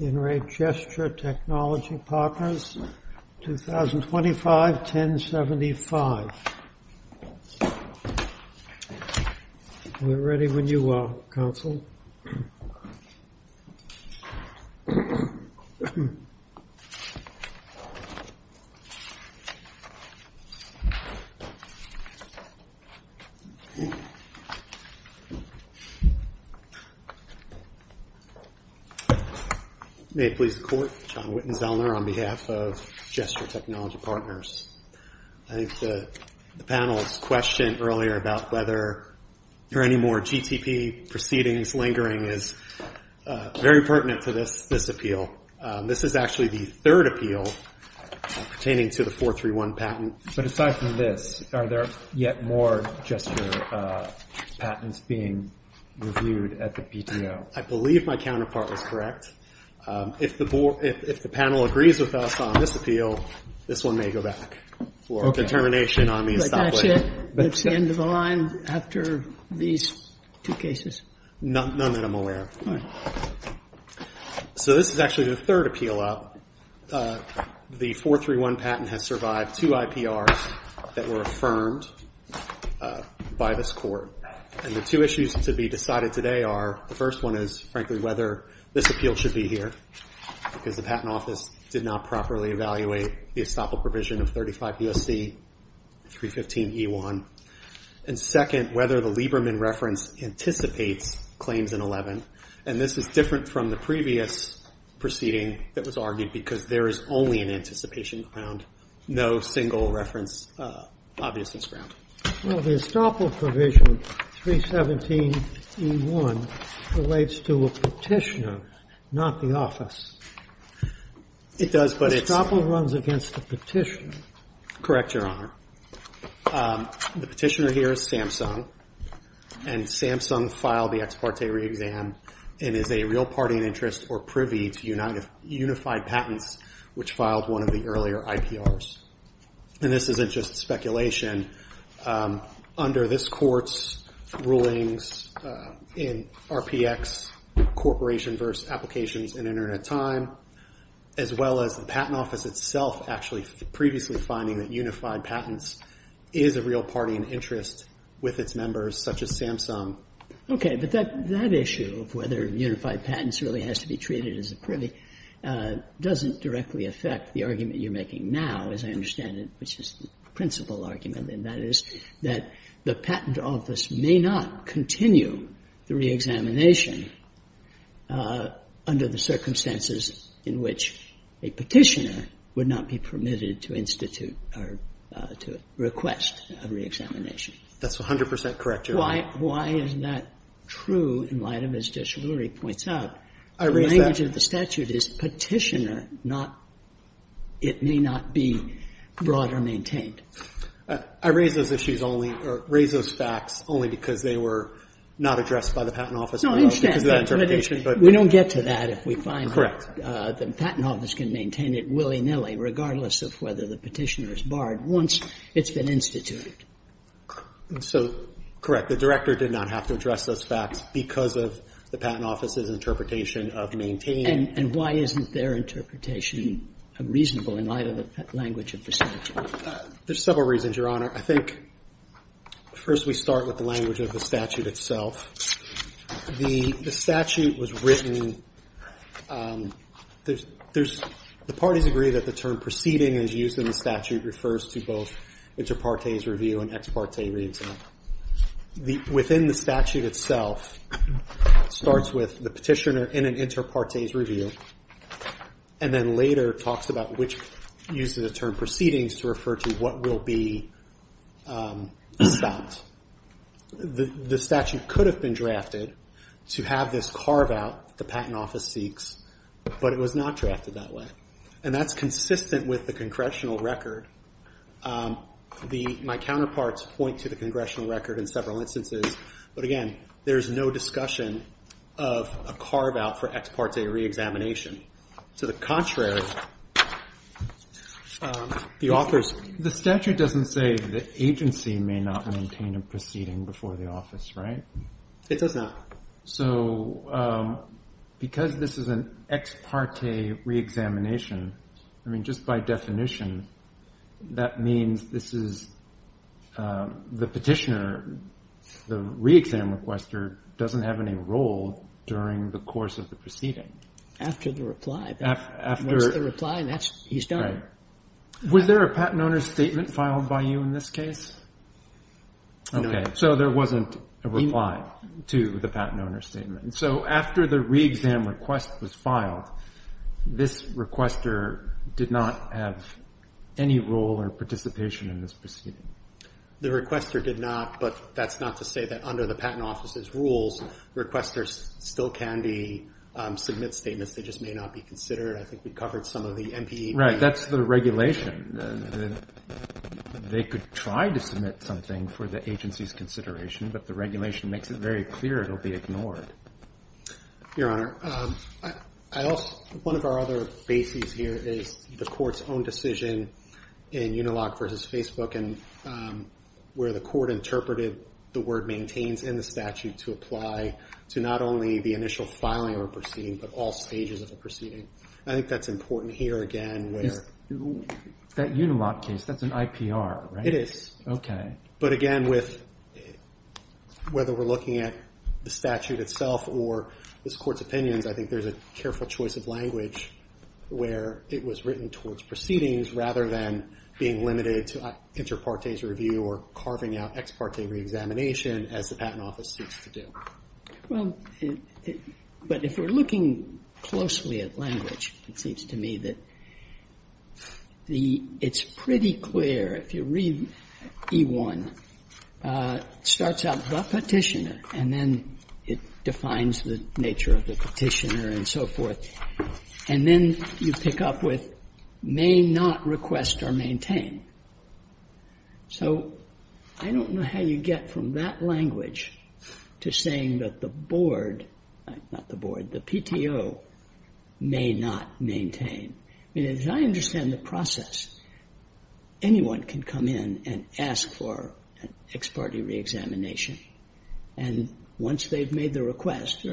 In Re. Gesture Technology Partners, 2025-1075 We're ready when you are, Counsel. May it please the Court, John Wittenzellner on behalf of Gesture Technology Partners. I think the panel's question earlier about whether there are any more GTP proceedings lingering is very pertinent to this appeal. This is actually the third appeal pertaining to the 431 patent. But aside from this, are there yet more gesture patents being reviewed at the PTO? I believe my counterpart was correct. If the panel agrees with us on this appeal, this one may go back for determination on the establishment. But that's it? That's the end of the line after these two cases? None that I'm aware of. So this is actually the third appeal up. The 431 patent has survived two IPRs that were affirmed by this Court. And the two issues to be decided today are, the first one is, frankly, whether this appeal should be here. Because the Patent Office did not properly evaluate the estoppel provision of 35 U.S.C. 315e1. And second, whether the Lieberman reference anticipates claims in 11. And this is different from the previous proceeding that was argued, because there is only an anticipation around no single reference obviousness ground. Well, the estoppel provision, 317e1, relates to a petitioner, not the office. It does, but it's... Estoppel runs against the petitioner. Correct, Your Honor. The petitioner here is Samsung. And Samsung filed the ex parte re-exam and is a real party in interest or privy to unified patents, which filed one of the earlier IPRs. And this isn't just speculation. Under this Court's rulings in RPX, Corporation versus Applications in Internet Time, as well as the Patent Office itself actually previously finding that unified patents is a real party in interest with its members, such as Samsung. Okay, but that issue of whether unified patents really has to be treated as a privy doesn't directly affect the argument you're making now, as I understand it, which is the principal argument, and that is that the Patent Office may not continue the re-examination under the circumstances in which a petitioner would not be permitted to institute or to request a re-examination. That's 100 percent correct, Your Honor. Why isn't that true in light of, as Judge Ruri points out, the language of the statute is petitioner, not it may not be brought or maintained. I raise those issues only or raise those facts only because they were not addressed by the Patent Office. No, I understand. We don't get to that if we find that the Patent Office can maintain it willy-nilly regardless of whether the petitioner is barred once it's been instituted. So, correct. The Director did not have to address those facts because of the Patent Office's interpretation of maintain. And why isn't their interpretation reasonable in light of the language of the statute? There's several reasons, Your Honor. I think first we start with the language of the statute itself. The statute was written. The parties agree that the term proceeding as used in the statute refers to both inter partes review and ex parte re-examination. Within the statute itself, it starts with the petitioner in an inter partes review and then later talks about which uses the term proceedings to refer to what will be stopped. The statute could have been drafted to have this carve out the Patent Office seeks, but it was not drafted that way. And that's consistent with the Congressional record. My counterparts point to the Congressional record in several instances, but again, there's no discussion of a carve out for ex parte re-examination. To the contrary, the authors... The statute doesn't say the agency may not maintain a proceeding before the office, right? It does not. So, because this is an ex parte re-examination, I mean, just by definition, that requester doesn't have any role during the course of the proceeding. After the reply. After... Once the reply, he's done. Was there a patent owner's statement filed by you in this case? No. Okay. So there wasn't a reply to the patent owner's statement. So after the re-exam request was filed, this requester did not have any role or participation in this proceeding. The requester did not, but that's not to say that under the patent office's rules, requesters still can be... Submit statements. They just may not be considered. I think we covered some of the MPE... Right. That's the regulation. They could try to submit something for the agency's consideration, but the regulation makes it very clear it'll be ignored. Your Honor, I also... One of our other bases here is the court's own decision in Unilog versus Facebook. Where the court interpreted the word maintains in the statute to apply to not only the initial filing or proceeding, but all stages of the proceeding. I think that's important here again where... That Unilog case, that's an IPR, right? It is. But again, whether we're looking at the statute itself or this court's opinions, I think there's a careful choice of language where it was written towards proceedings rather than being limited to inter partes review or carving out ex parte reexamination as the patent office seeks to do. Well, but if we're looking closely at language, it seems to me that it's pretty clear if you read E1, starts out the petitioner and then it defines the nature of the petitioner and so forth, and then you pick up with may not request or maintain. So, I don't know how you get from that language to saying that the board, not the board, the PTO may not maintain. I mean, as I understand the process, anyone can come in and ask for an ex parte reexamination and once they've made the request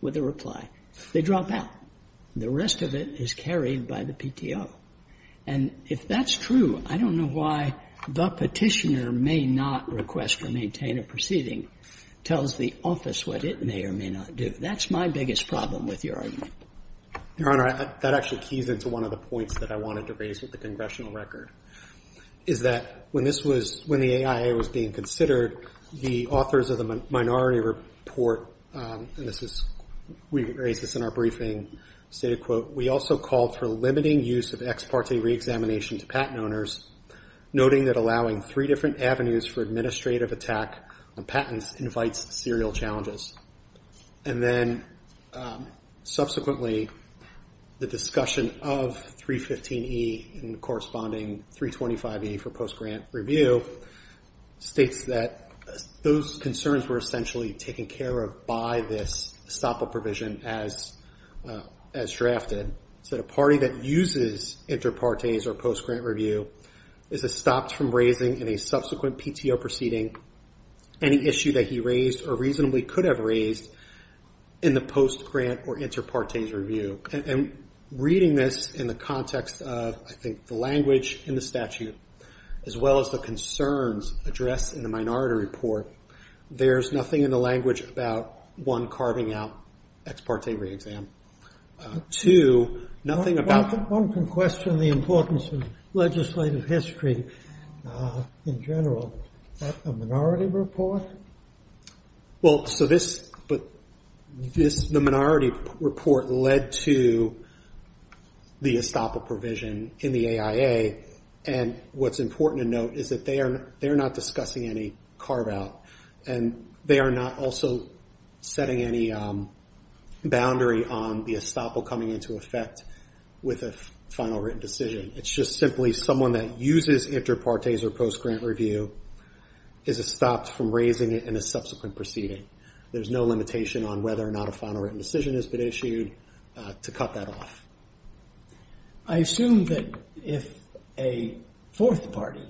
with a reply, they drop out. The rest of it is carried by the PTO. And if that's true, I don't know why the petitioner may not request or maintain a proceeding tells the office what it may or may not do. That's my biggest problem with your argument. Your Honor, that actually keys into one of the points that I wanted to raise with the is that when the AIA was being considered, the authors of the minority report, and we raised this in our briefing, stated, quote, we also called for limiting use of ex parte reexamination to patent owners, noting that allowing three different avenues for administrative attack on patents invites serial challenges. And then, subsequently, the discussion of 315E and corresponding 325E for post-grant review states that those concerns were essentially taken care of by this stop-all provision as drafted. So, the party that uses inter partes or post-grant review is stopped from raising in a subsequent in the post-grant or inter partes review. And reading this in the context of, I think, the language in the statute, as well as the concerns addressed in the minority report, there's nothing in the language about, one, carving out ex parte reexam. Two, nothing about... One can question the importance of legislative history in general. A minority report? Well, so this... The minority report led to the stop-all provision in the AIA. And what's important to note is that they are not discussing any carve out. And they are not also setting any boundary on the stop-all coming into effect with a final written decision. It's just simply someone that uses inter partes or post-grant review is stopped from raising it in a subsequent proceeding. There's no limitation on whether or not a final written decision has been issued to cut that off. I assume that if a fourth party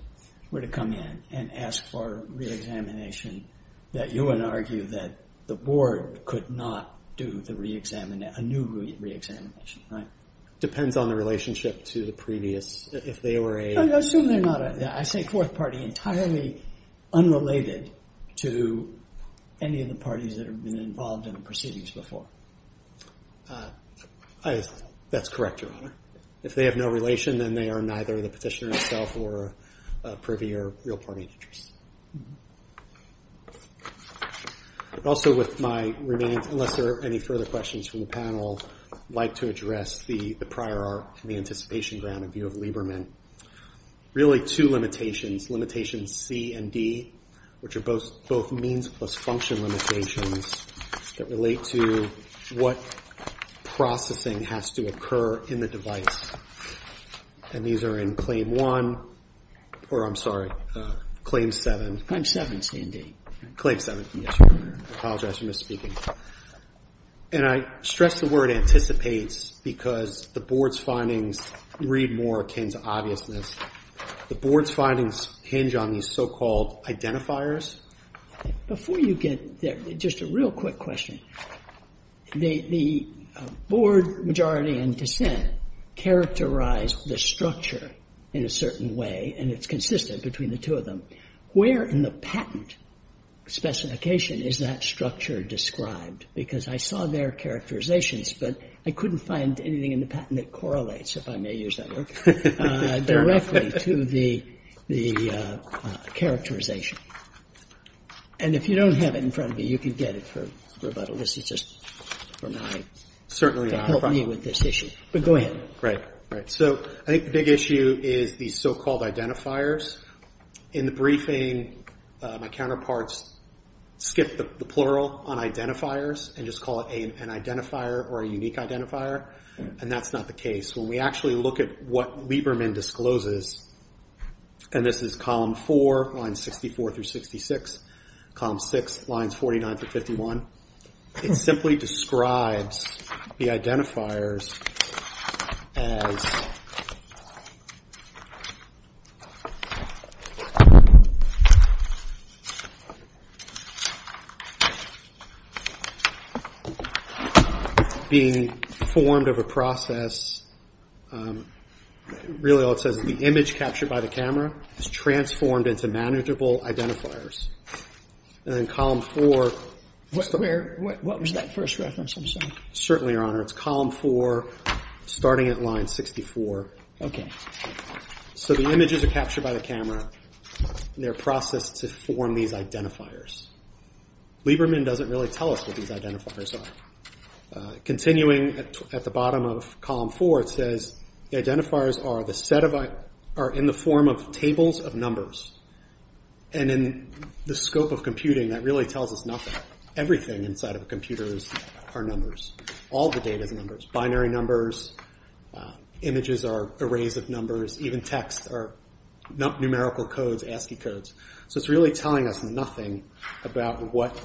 were to come in and ask for reexamination, that you would argue that the board could not do a new reexamination, right? Depends on the relationship to the previous... If they were a... I assume they're not a... I say fourth party entirely unrelated to any of the parties that have been involved in the proceedings before. That's correct, Your Honor. If they have no relation, then they are neither the petitioner himself or a privy or real party interest. Also with my remaining... Unless there are any further questions from the panel, I'd like to address the prior art and the anticipation ground in view of Lieberman. Really two limitations, limitations C and D, which are both means plus function limitations that relate to what processing has to occur in the device. And these are in Claim 1, or I'm sorry, Claim 7. Claim 7, C and D. Claim 7. Yes, Your Honor. I apologize for misspeaking. And I stress the word anticipates because the board's findings read more akin to obviousness. The board's findings hinge on these so-called identifiers. Before you get there, just a real quick question. The board majority in dissent characterized the structure in a certain way, and it's consistent between the two of them. Where in the patent specification is that structure described? Because I saw their characterizations, but I couldn't find anything in the patent that correlates, if I may use that word, directly to the characterization. And if you don't have it in front of you, you can get it for rebuttal. This is just for my, to help me with this issue. But go ahead. Right. So I think the big issue is these so-called identifiers. In the briefing, my counterparts skipped the plural on identifiers and just call it an identifier or a unique identifier, and that's not the case. When we actually look at what Lieberman discloses, and this is Column 4, Lines 64 through 66, Column 6, Lines 49 through 51, it simply describes the identifiers as being formed of a process, really all it says is the image captured by the camera is transformed into manageable identifiers. And then Column 4. What was that first reference? I'm sorry. Certainly, Your Honor, it's Column 4, starting at Line 64. So the images are captured by the camera, and they're processed to form these identifiers. Lieberman doesn't really tell us what these identifiers are. Continuing at the bottom of Column 4, it says the identifiers are in the form of tables of numbers. And in the scope of computing, that really tells us nothing. Everything inside of a computer are numbers. All the data is numbers. Binary numbers, images are arrays of numbers, even text are numerical codes, So it's really telling us nothing about what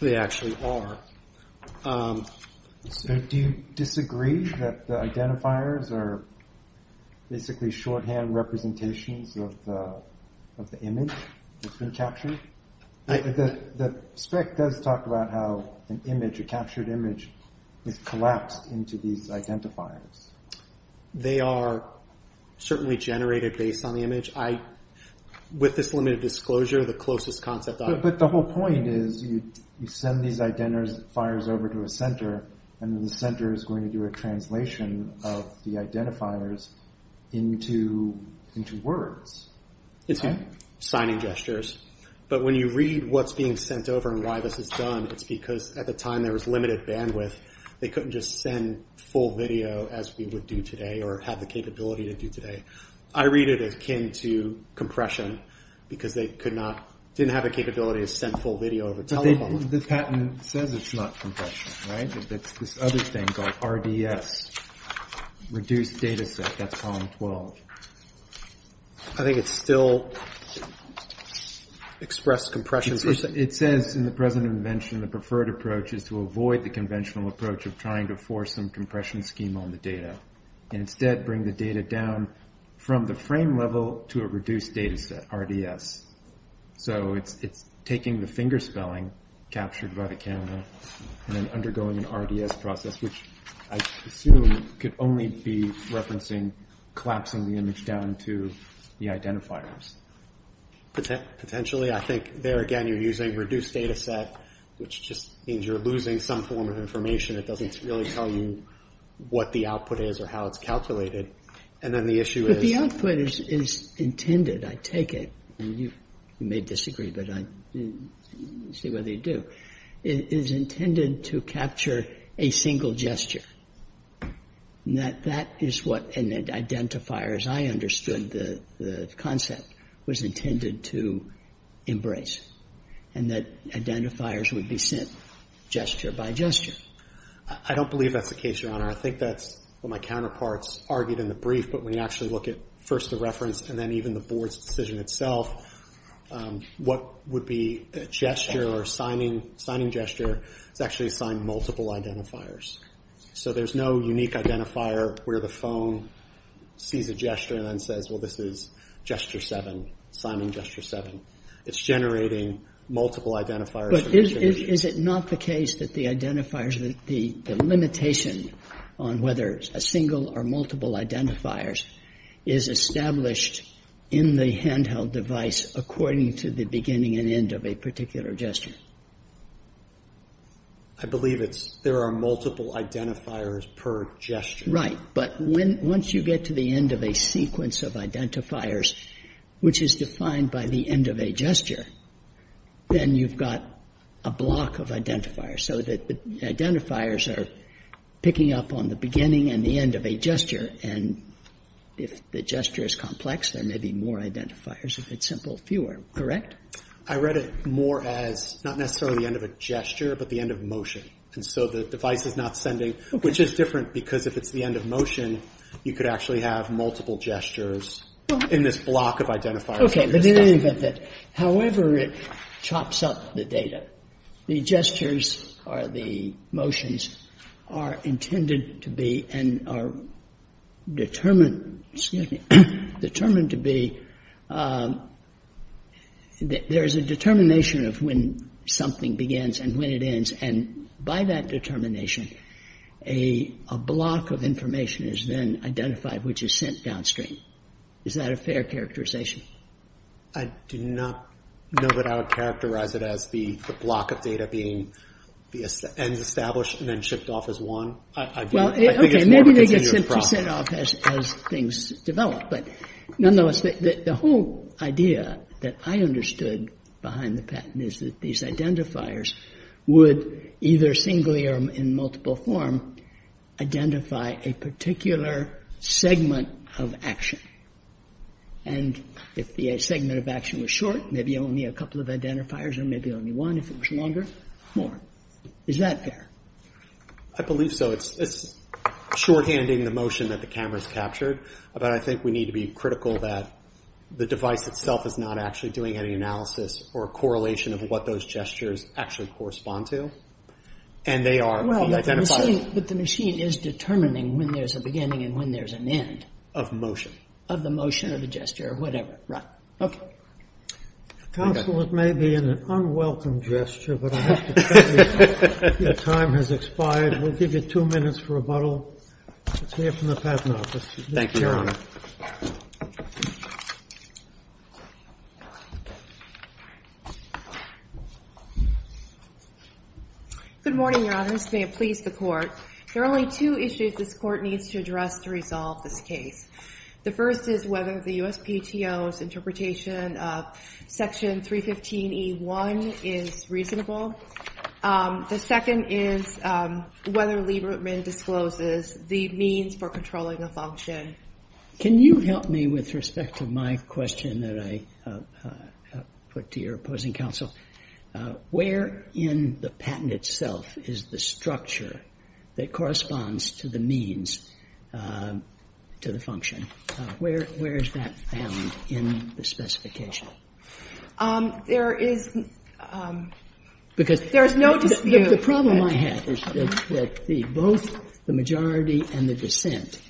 they actually are. Do you disagree that the identifiers are basically shorthand representations of the image that's been captured? The spec does talk about how an image, a captured image, is collapsed into these identifiers. They are certainly generated based on the image. With this limited disclosure, the closest concept I have... But the whole point is, you send these identifiers over to a center, and then the center is going to do a translation of the identifiers into words. Into signing gestures. But when you read what's being sent over and why this is done, it's because at the time there was limited bandwidth. They couldn't just send full video as we would do today, or have the capability to do today. I read it as akin to compression, because they didn't have the capability to send full video over telephone. This patent says it's not compression, right? It's this other thing called RDS, reduced data set. That's Column 12. I think it's still expressed compression. It says in the present invention, the preferred approach is to avoid the conventional approach of trying to force some compression scheme on the data, and instead bring the data down from the frame level to a reduced data set, RDS. So it's taking the fingerspelling captured by the camera, and then undergoing an RDS process, which I assume could only be referencing collapsing the image down to the identifiers. Potentially. I think there again you're using reduced data set, which just means you're losing some form of information that doesn't really tell you what the output is or how it's calculated. But the output is intended, I take it. You may disagree, but I see what you do. I think that the idea of the RDS is intended to capture a single gesture. That is what an identifier, as I understood the concept, was intended to embrace, and that identifiers would be sent gesture by gesture. I don't believe that's the case, Your Honor. I think that's what my counterparts argued in the brief, but when you actually look at first the reference and then even the Board's decision itself, what would be a gesture or signing gesture is actually signed multiple identifiers. So there's no unique identifier where the phone sees a gesture and then says, well, this is gesture seven, signing gesture seven. It's generating multiple identifiers. But is it not the case that the identifiers, the limitation on whether it's a single or multiple identifiers is established in the handheld device according to the beginning and end of a particular gesture? I believe it's there are multiple identifiers per gesture. But once you get to the end of a sequence of identifiers, which is defined by the end of a gesture, then you've got a block of identifiers. So the identifiers are picking up on the beginning and the end of a gesture and if the gesture is complex, there may be more identifiers. If it's simple, fewer. Correct? I read it more as not necessarily the end of a gesture, but the end of motion. And so the device is not sending, which is different because if it's the end of motion, you could actually have multiple gestures in this block of identifiers. Okay. But in any event, however it chops up the data, the gestures or the motions are intended to be and are determined to be. There is a determination of when something begins and when it ends, and by that determination a block of information is then identified, which is sent downstream. Is that a fair characterization? I do not know that I would characterize it as the block of data being and then shipped off as one. Okay. Maybe they get sent off as things develop. But nonetheless, the whole idea that I understood behind the patent is that these identifiers would either singly or in multiple form identify a particular segment of action. And if the segment of action was short, maybe only a couple of identifiers or maybe only one if it was longer, more. Is that fair? I believe so. It's shorthanding the motion that the camera's captured, but I think we need to be critical that the device itself is not actually doing any analysis or correlation of what those gestures actually correspond to, and they are identified. But the machine is determining when there's a beginning and when there's an end. Of motion. Of the motion or the gesture or whatever. Okay. Counsel, it may be an unwelcome gesture, but I have to tell you that your time has expired. We'll give you two minutes for rebuttal. It's here from the Patent Office. Thank you, Your Honor. Good morning, Your Honors. May it please the Court. There are only two issues this Court needs to address to resolve this case. The first is whether the USPTO's interpretation of Section 315E1 is reasonable. The second is whether Lieberman discloses the means for controlling a function. Can you help me with respect to my question that I put to your opposing counsel? Where in the patent itself is the structure that corresponds to the means to the function? Where is that found in the specification? The problem I have is that both the majority and the dissent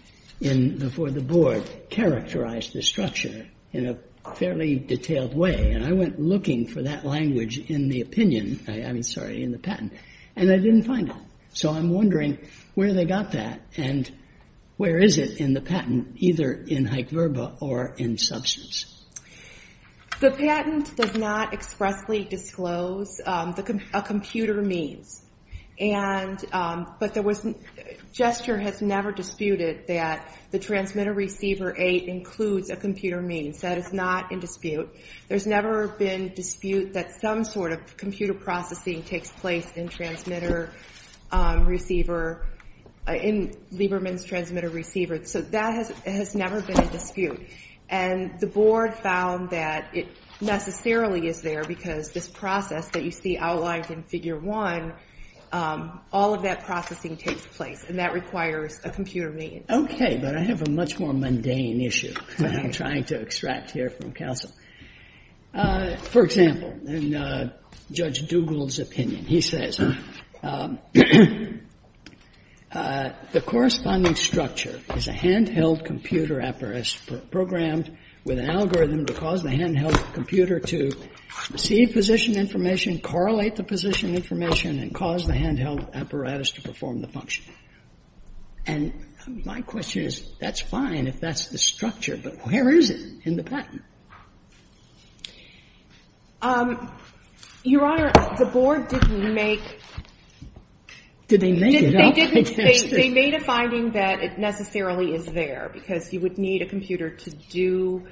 for the board characterized the structure in a fairly detailed way, and I went looking for that language in the patent, and I didn't find it. So I'm wondering where they got that, and where is it in the patent, either in hyc verba or in substance? The patent does not expressly disclose a computer means, but gesture has never disputed that the transmitter-receiver aid includes a computer means. That is not in dispute. There's never been dispute that some sort of computer processing takes place in transmitter-receiver, in Lieberman's transmitter-receiver. So that has never been a dispute. And the board found that it necessarily is there because this process that you see outlined in Figure 1, all of that processing takes place, and that requires a computer means. Okay. But I have a much more mundane issue that I'm trying to extract here from Castle. For example, in Judge Dugald's opinion, he says, the corresponding structure is a handheld computer apparatus programmed with an algorithm to cause the handheld computer to receive position information, correlate the position information, and cause the handheld apparatus to perform the function. And my question is, that's fine if that's the structure, but where is it in the patent? Your Honor, the board didn't make — Did they make it up? They didn't. They made a finding that it necessarily is there because you would need a computer to do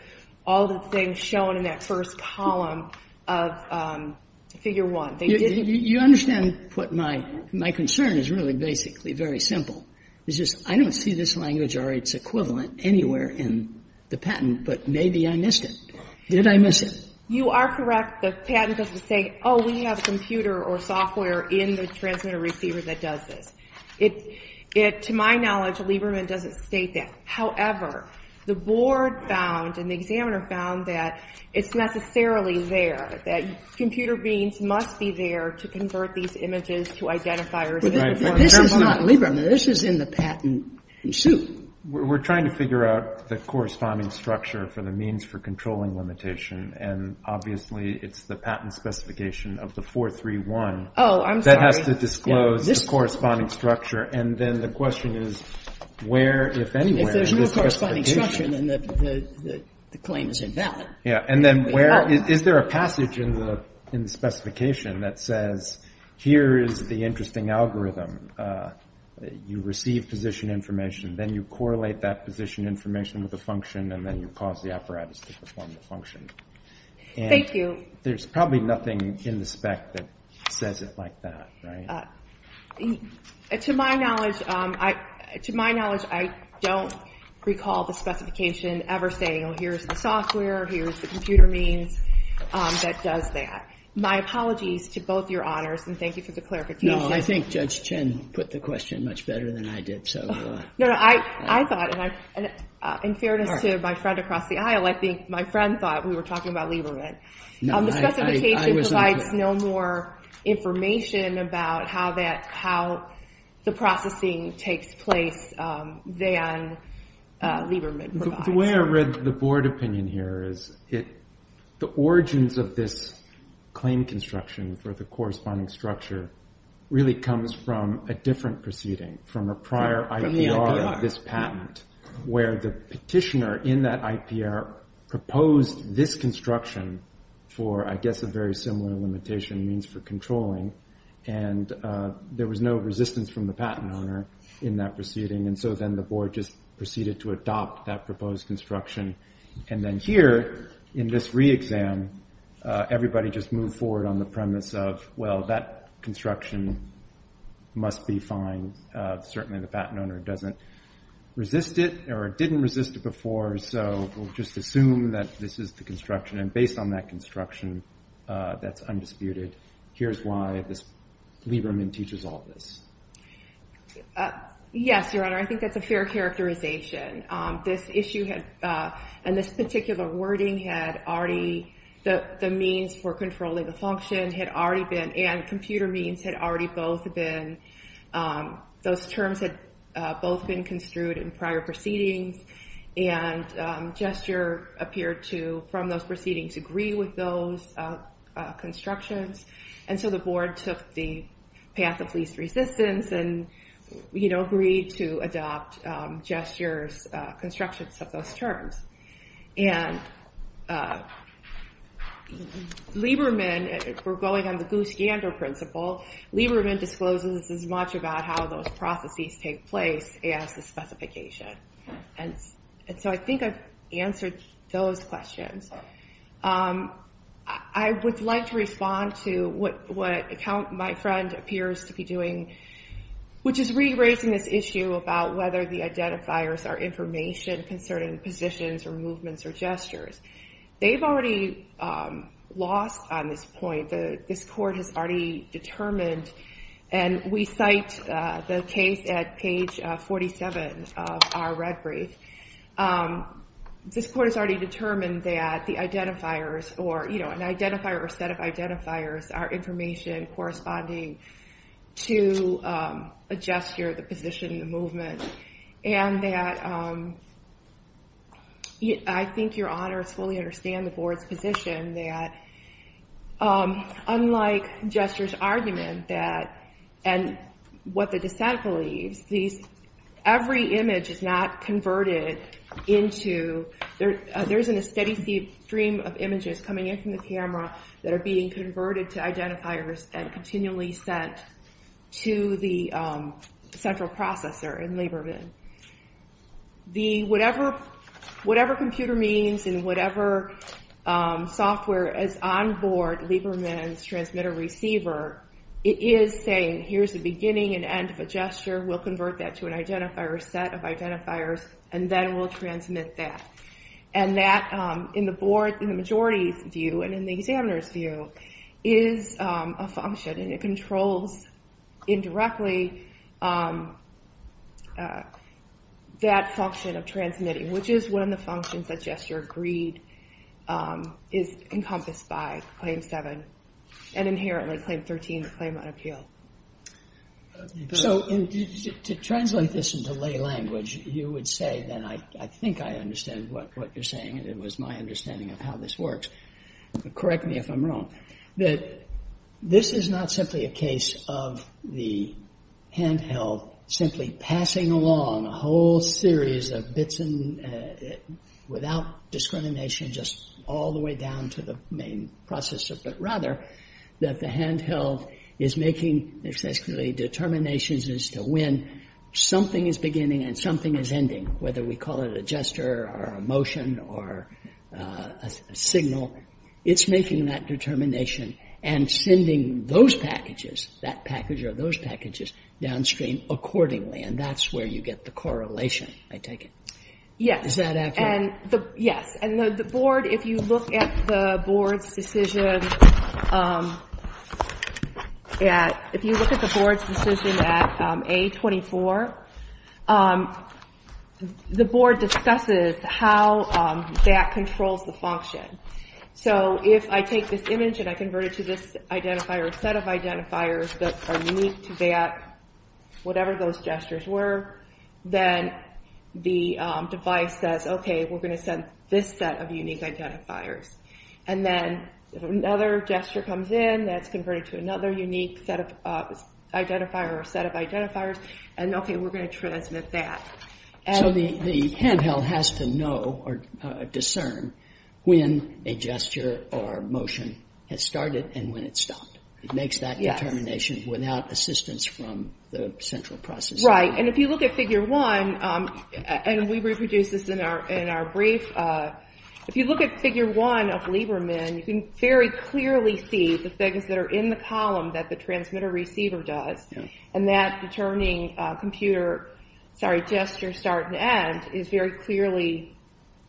all the things shown in that first column of Figure 1. You understand what my concern is really, basically, very simple. It's just I don't see this language or its equivalent anywhere in the patent, but maybe I missed it. Did I miss it? You are correct. The patent doesn't say, oh, we have a computer or software in the transmitter-receiver that does this. It, to my knowledge, Lieberman doesn't state that. However, the board found and the examiner found that it's necessarily there, that computer beings must be there to convert these images to identifiers. But this is not Lieberman. This is in the patent suit. We're trying to figure out the corresponding structure for the means for controlling limitation, and obviously, it's the patent specification of the 431. Oh, I'm sorry. That has to disclose the corresponding structure, and then the question is where, if anywhere, is this specification? If there's no corresponding structure, then the claim is invalid. Yeah, and then where, is there a passage in the specification that says, here is the interesting algorithm. You receive position information. Then you correlate that position information with a function, and then you cause the apparatus to perform the function. Thank you. There's probably nothing in the spec that says it like that, right? To my knowledge, I don't recall the specification ever saying, here's the software, here's the computer means that does that. My apologies to both your honors, and thank you for the clarification. No, I think Judge Chen put the question much better than I did, so. No, no, I thought, and in fairness to my friend across the aisle, I think my friend thought we were talking about Lieberman. No, I was not. The specification provides no more information about how the processing takes place than Lieberman provides. The way I read the board opinion here is the origins of this claim construction for the corresponding structure really comes from a different proceeding, from a prior IPR of this patent, where the petitioner in that IPR proposed this construction for, I guess, a very similar limitation means for controlling, and there was no resistance from the patent owner in that proceeding, and so then the board just proceeded to adopt that proposed construction, and then here in this re-exam, everybody just moved forward on the premise of, well, that construction must be fine. Certainly the patent owner doesn't resist it or didn't resist it before, so we'll just assume that this is the construction, and based on that construction that's undisputed, here's why Lieberman teaches all this. Yes, Your Honor, I think that's a fair characterization. This issue and this particular wording had already, the means for controlling the function had already been, and computer means had already both been, those terms had both been construed in prior proceedings, and gesture appeared to, from those proceedings, agree with those constructions, and so the board took the path of least resistance and agreed to adopt gesture constructions of those terms, and Lieberman, if we're going on the goose-gander principle, Lieberman discloses as much about how those processes take place as the specification, and so I think I've answered those questions. I would like to respond to what my friend appears to be doing, which is re-raising this issue about whether the identifiers are information concerning positions or movements or gestures. They've already lost on this point. This court has already determined, and we cite the case at page 47 of our red brief. This court has already determined that the identifiers, or an identifier or set of identifiers, are information corresponding to a gesture, the position, the movement, and that I think your honors fully understand the board's position that unlike gesture's argument that, and what the dissent believes, every image is not converted into, there isn't a steady stream of images coming in from the camera that are being converted to identifiers and continually sent to the central processor in Lieberman. Whatever computer means and whatever software is on board Lieberman's transmitter receiver, it is saying, here's the beginning and end of a gesture, we'll convert that to an identifier, set of identifiers, and then we'll transmit that. And that, in the board, in the majority's view, and in the examiner's view, is a function, and it controls indirectly that function of transmitting, which is one of the functions that gesture agreed is encompassed by, and inherently claim 13, the claim on appeal. So to translate this into lay language, you would say that I think I understand what you're saying, and it was my understanding of how this works. Correct me if I'm wrong. This is not simply a case of the handheld simply passing along a whole series of bits without discrimination, just all the way down to the main processor, but rather that the handheld is making determinations as to when something is beginning and something is ending, whether we call it a gesture or a motion or a signal. It's making that determination and sending those packages, that package or those packages, downstream accordingly, and that's where you get the correlation, I take it. Yes. Is that accurate? Yes. And the board, if you look at the board's decision at A24, the board discusses how that controls the function. So if I take this image and I convert it to this identifier, a set of identifiers that are unique to that, whatever those gestures were, then the device says, okay, we're going to send this set of unique identifiers. And then if another gesture comes in, that's converted to another unique identifier or set of identifiers, and, okay, we're going to transmit that. So the handheld has to know or discern when a gesture or motion has started and when it's stopped. It makes that determination without assistance from the central processor. Right. And if you look at Figure 1, and we reproduced this in our brief, if you look at Figure 1 of Lieberman, you can very clearly see the things that are in the column that the transmitter-receiver does, and that the turning computer gesture start and end is very clearly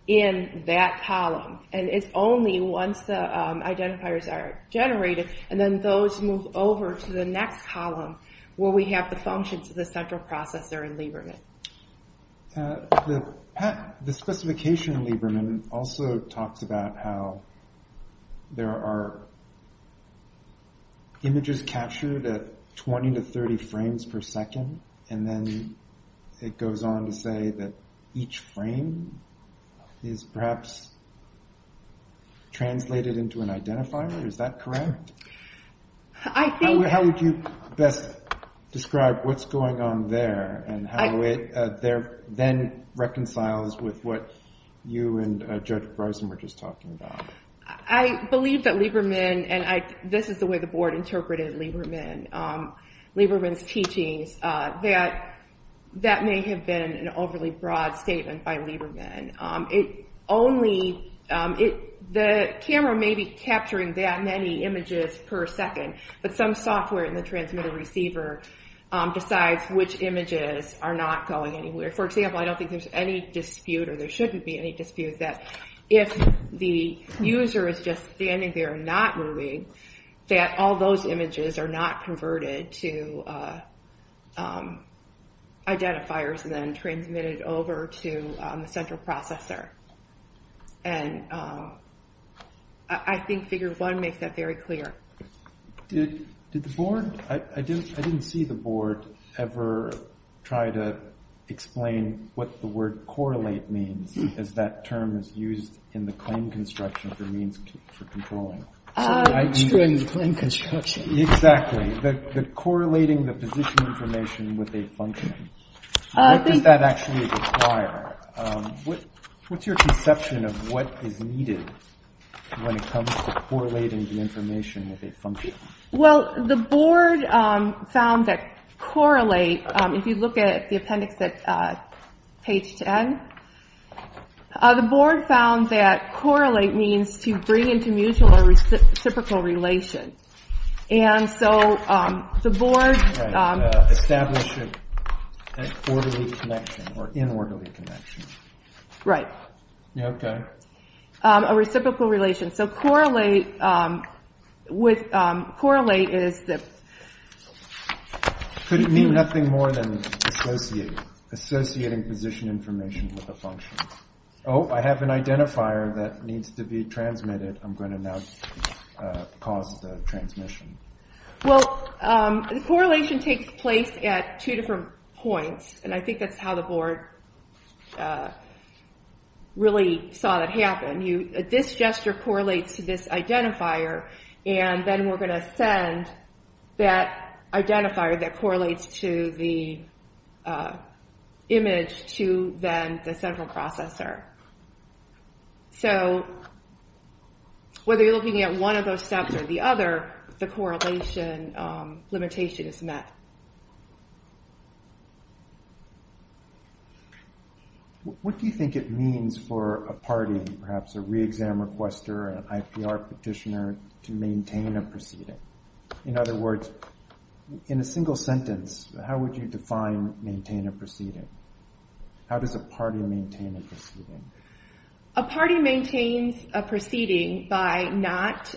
in that column. And it's only once the identifiers are generated, and then those move over to the next column, where we have the functions of the central processor in Lieberman. The specification in Lieberman also talks about how there are images captured at 20 to 30 frames per second, and then it goes on to say that each frame is perhaps translated into an identifier. Is that correct? I think... How would you best describe what's going on there and how it then reconciles with what you and Judge Bryson were just talking about? I believe that Lieberman, and this is the way the board interpreted Lieberman, Lieberman's teachings, that that may have been an overly broad statement by Lieberman. The camera may be capturing that many images per second, but some software in the transmitter-receiver decides which images are not going anywhere. For example, I don't think there's any dispute, or there shouldn't be any dispute, that if the user is just standing there and not moving, that all those images are not converted to identifiers and then transmitted over to the central processor. And I think figure one makes that very clear. Did the board... I didn't see the board ever try to explain what the word correlate means, because that term is used in the claim construction for means for controlling. It's true in the claim construction. Exactly, that correlating the position information with a function. What does that actually require? What's your conception of what is needed when it comes to correlating the information with a function? Well, the board found that correlate, if you look at the appendix at page 10, the board found that correlate means to bring into mutual or reciprocal relation. And so the board... Establishing an orderly connection, or an inorderly connection. Right. Okay. A reciprocal relation. So correlate is... Could it mean nothing more than associating position information with a function? Oh, I have an identifier that needs to be transmitted. I'm going to now cause the transmission. Well, correlation takes place at two different points, and I think that's how the board really saw that happen. This gesture correlates to this identifier, and then we're going to send that identifier that correlates to the image to then the central processor. So whether you're looking at one of those steps or the other, the correlation limitation is met. What do you think it means for a party, perhaps a re-exam requester, an IPR petitioner, to maintain a proceeding? In other words, in a single sentence, how would you define maintain a proceeding? How does a party maintain a proceeding? A party maintains a proceeding by not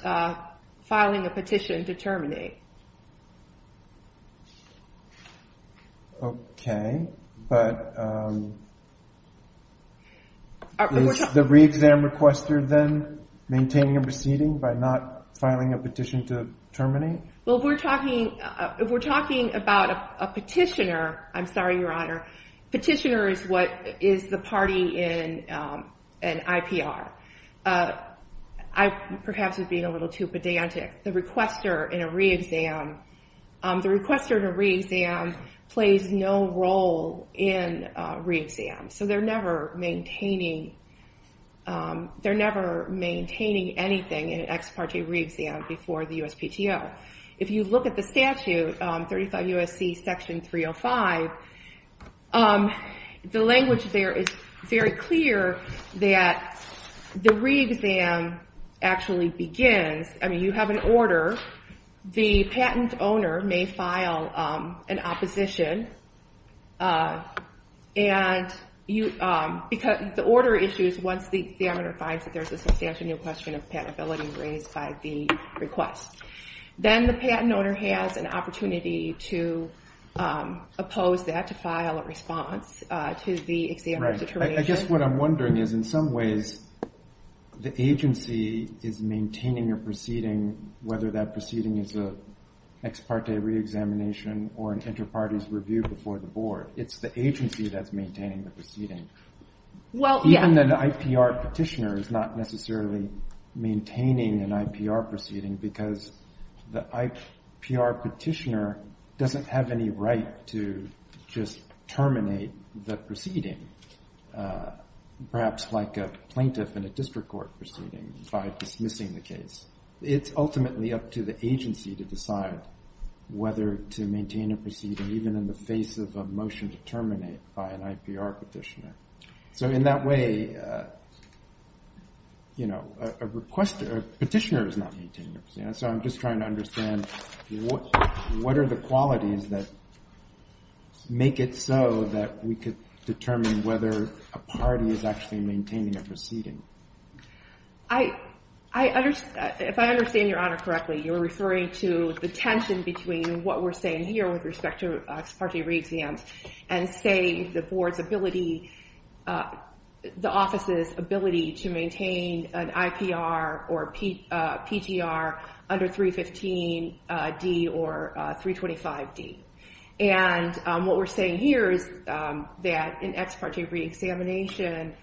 filing a petition to terminate. Okay, but is the re-exam requester then maintaining a proceeding by not filing a petition to terminate? Well, if we're talking about a petitioner, I'm sorry, Your Honor, petitioner is what is the party in an IPR. I perhaps was being a little too pedantic. The requester in a re-exam, the requester in a re-exam plays no role in a re-exam, so they're never maintaining anything in an ex parte re-exam before the USPTO. If you look at the statute, 35 U.S.C. section 305, the language there is very clear that the re-exam actually begins, I mean, you have an order, the patent owner may file an opposition, and the order issues once the examiner finds that there's a substantial question of patentability raised by the request. Then the patent owner has an opportunity to oppose that, to file a response to the examiner's determination. I guess what I'm wondering is in some ways the agency is maintaining a proceeding, whether that proceeding is an ex parte re-examination or an inter-parties review before the board. It's the agency that's maintaining the proceeding. Even an IPR petitioner is not necessarily maintaining an IPR proceeding because the IPR petitioner doesn't have any right to just terminate the proceeding, perhaps like a plaintiff in a district court proceeding by dismissing the case. It's ultimately up to the agency to decide whether to maintain a proceeding, even in the face of a motion to terminate by an IPR petitioner. So in that way, a petitioner is not maintaining a proceeding. So I'm just trying to understand what are the qualities that make it so that we could determine whether a party is actually maintaining a proceeding. If I understand Your Honor correctly, you're referring to the tension between what we're saying here with respect to ex parte re-exams and say the board's ability, the office's ability to maintain an IPR or PTR under 315D or 325D. And what we're saying here is that in ex parte re-examination,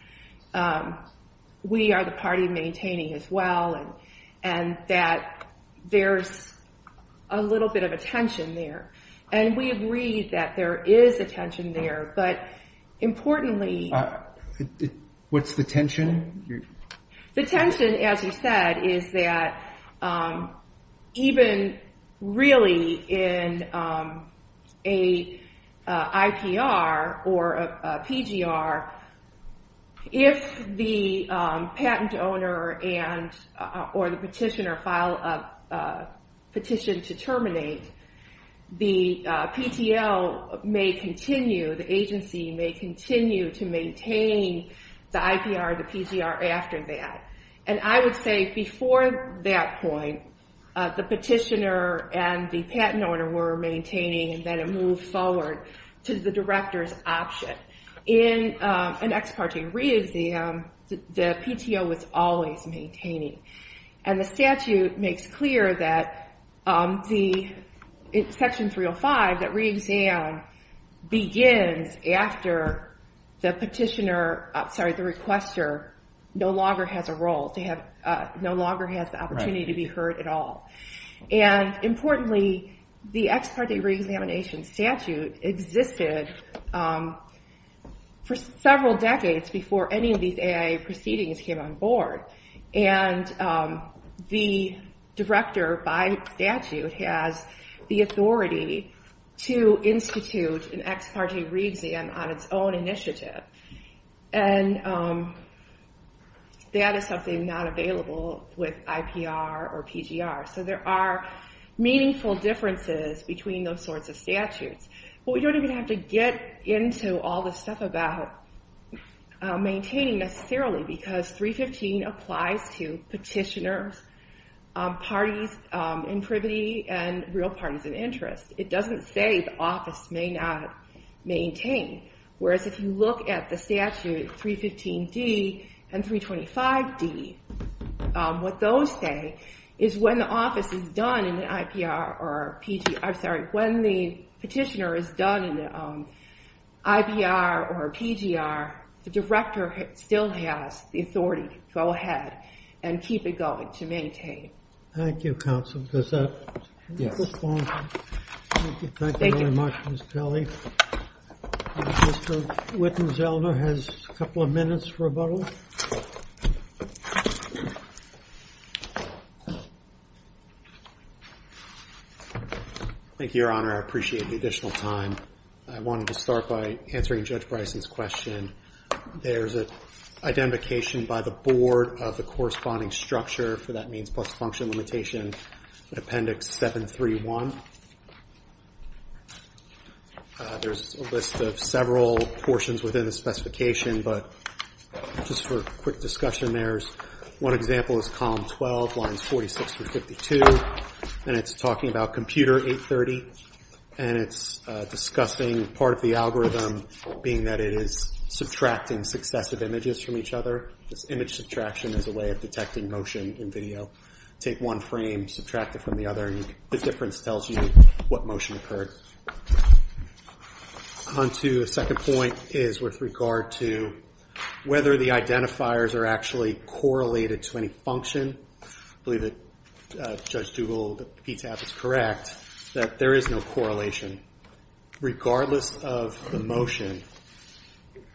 we are the party maintaining as well, and that there's a little bit of a tension there. And we agree that there is a tension there, but importantly... What's the tension? The tension, as you said, is that even really in an IPR or a PGR, if the patent owner or the petitioner filed a petition to terminate, the PTL may continue, the agency may continue to maintain the IPR or the PTR after that. And I would say before that point, the petitioner and the patent owner were maintaining, and then it moved forward to the director's option. But in an ex parte re-exam, the PTO was always maintaining. And the statute makes clear that in Section 305, that re-exam begins after the petitioner, sorry, the requester no longer has a role, no longer has the opportunity to be heard at all. And importantly, the ex parte re-examination statute existed for several decades before any of these AIA proceedings came on board. And the director, by statute, has the authority to institute an ex parte re-exam on its own initiative. And that is something not available with IPR or PGR. So there are meaningful differences between those sorts of statutes. But we don't even have to get into all the stuff about maintaining necessarily, because 315 applies to petitioners, parties in privity, and real parties of interest. It doesn't say the office may not maintain. Whereas if you look at the statute 315D and 325D, what those say is when the office is done in the IPR or PGR, I'm sorry, when the petitioner is done in the IPR or PGR, the director still has the authority to go ahead and keep it going, to maintain. Thank you, counsel. Does that respond? Thank you very much, Ms. Kelly. Mr. Wittenzelder has a couple of minutes for rebuttal. Thank you, Your Honor. I appreciate the additional time. I wanted to start by answering Judge Bryson's question. There's an identification by the board of the corresponding structure, for that means post-function limitation, appendix 731. There's a list of several portions within the specification, but just for quick discussion, there's one example is column 12, lines 46 through 52, and it's talking about computer 830, and it's discussing part of the algorithm being that it is subtracting successive images from each other. This image subtraction is a way of detecting motion in video. Take one frame, subtract it from the other, and the difference tells you what motion occurred. Onto the second point is with regard to whether the identifiers are actually correlated to any function. I believe that Judge Dugal, the PTAP, is correct that there is no correlation. Regardless of the motion,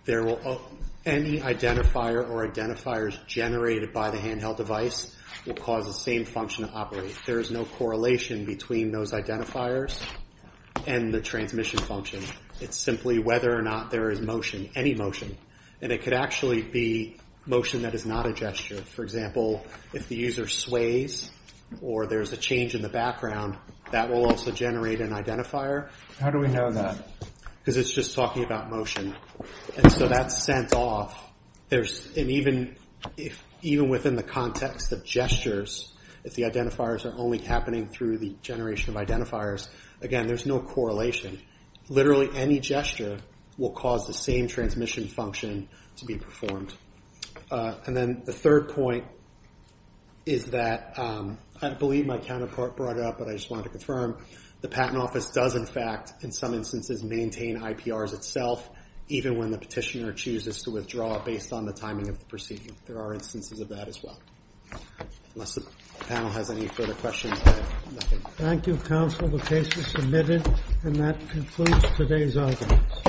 any identifier or identifiers generated by the handheld device will cause the same function to operate. There is no correlation between those identifiers and the transmission function. It's simply whether or not there is motion, any motion, and it could actually be motion that is not a gesture. For example, if the user sways or there's a change in the background, that will also generate an identifier. How do we know that? Because it's just talking about motion, and so that's sent off. Even within the context of gestures, if the identifiers are only happening through the generation of identifiers, again, there's no correlation. Literally any gesture will cause the same transmission function to be performed. Then the third point is that, I believe my counterpart brought it up, but I just wanted to confirm, the Patent Office does, in fact, in some instances, maintain IPRs itself, even when the petitioner chooses to withdraw based on the timing of the proceeding. There are instances of that as well. Unless the panel has any further questions, I have nothing. Thank you, counsel. The case is submitted, and that concludes today's audience.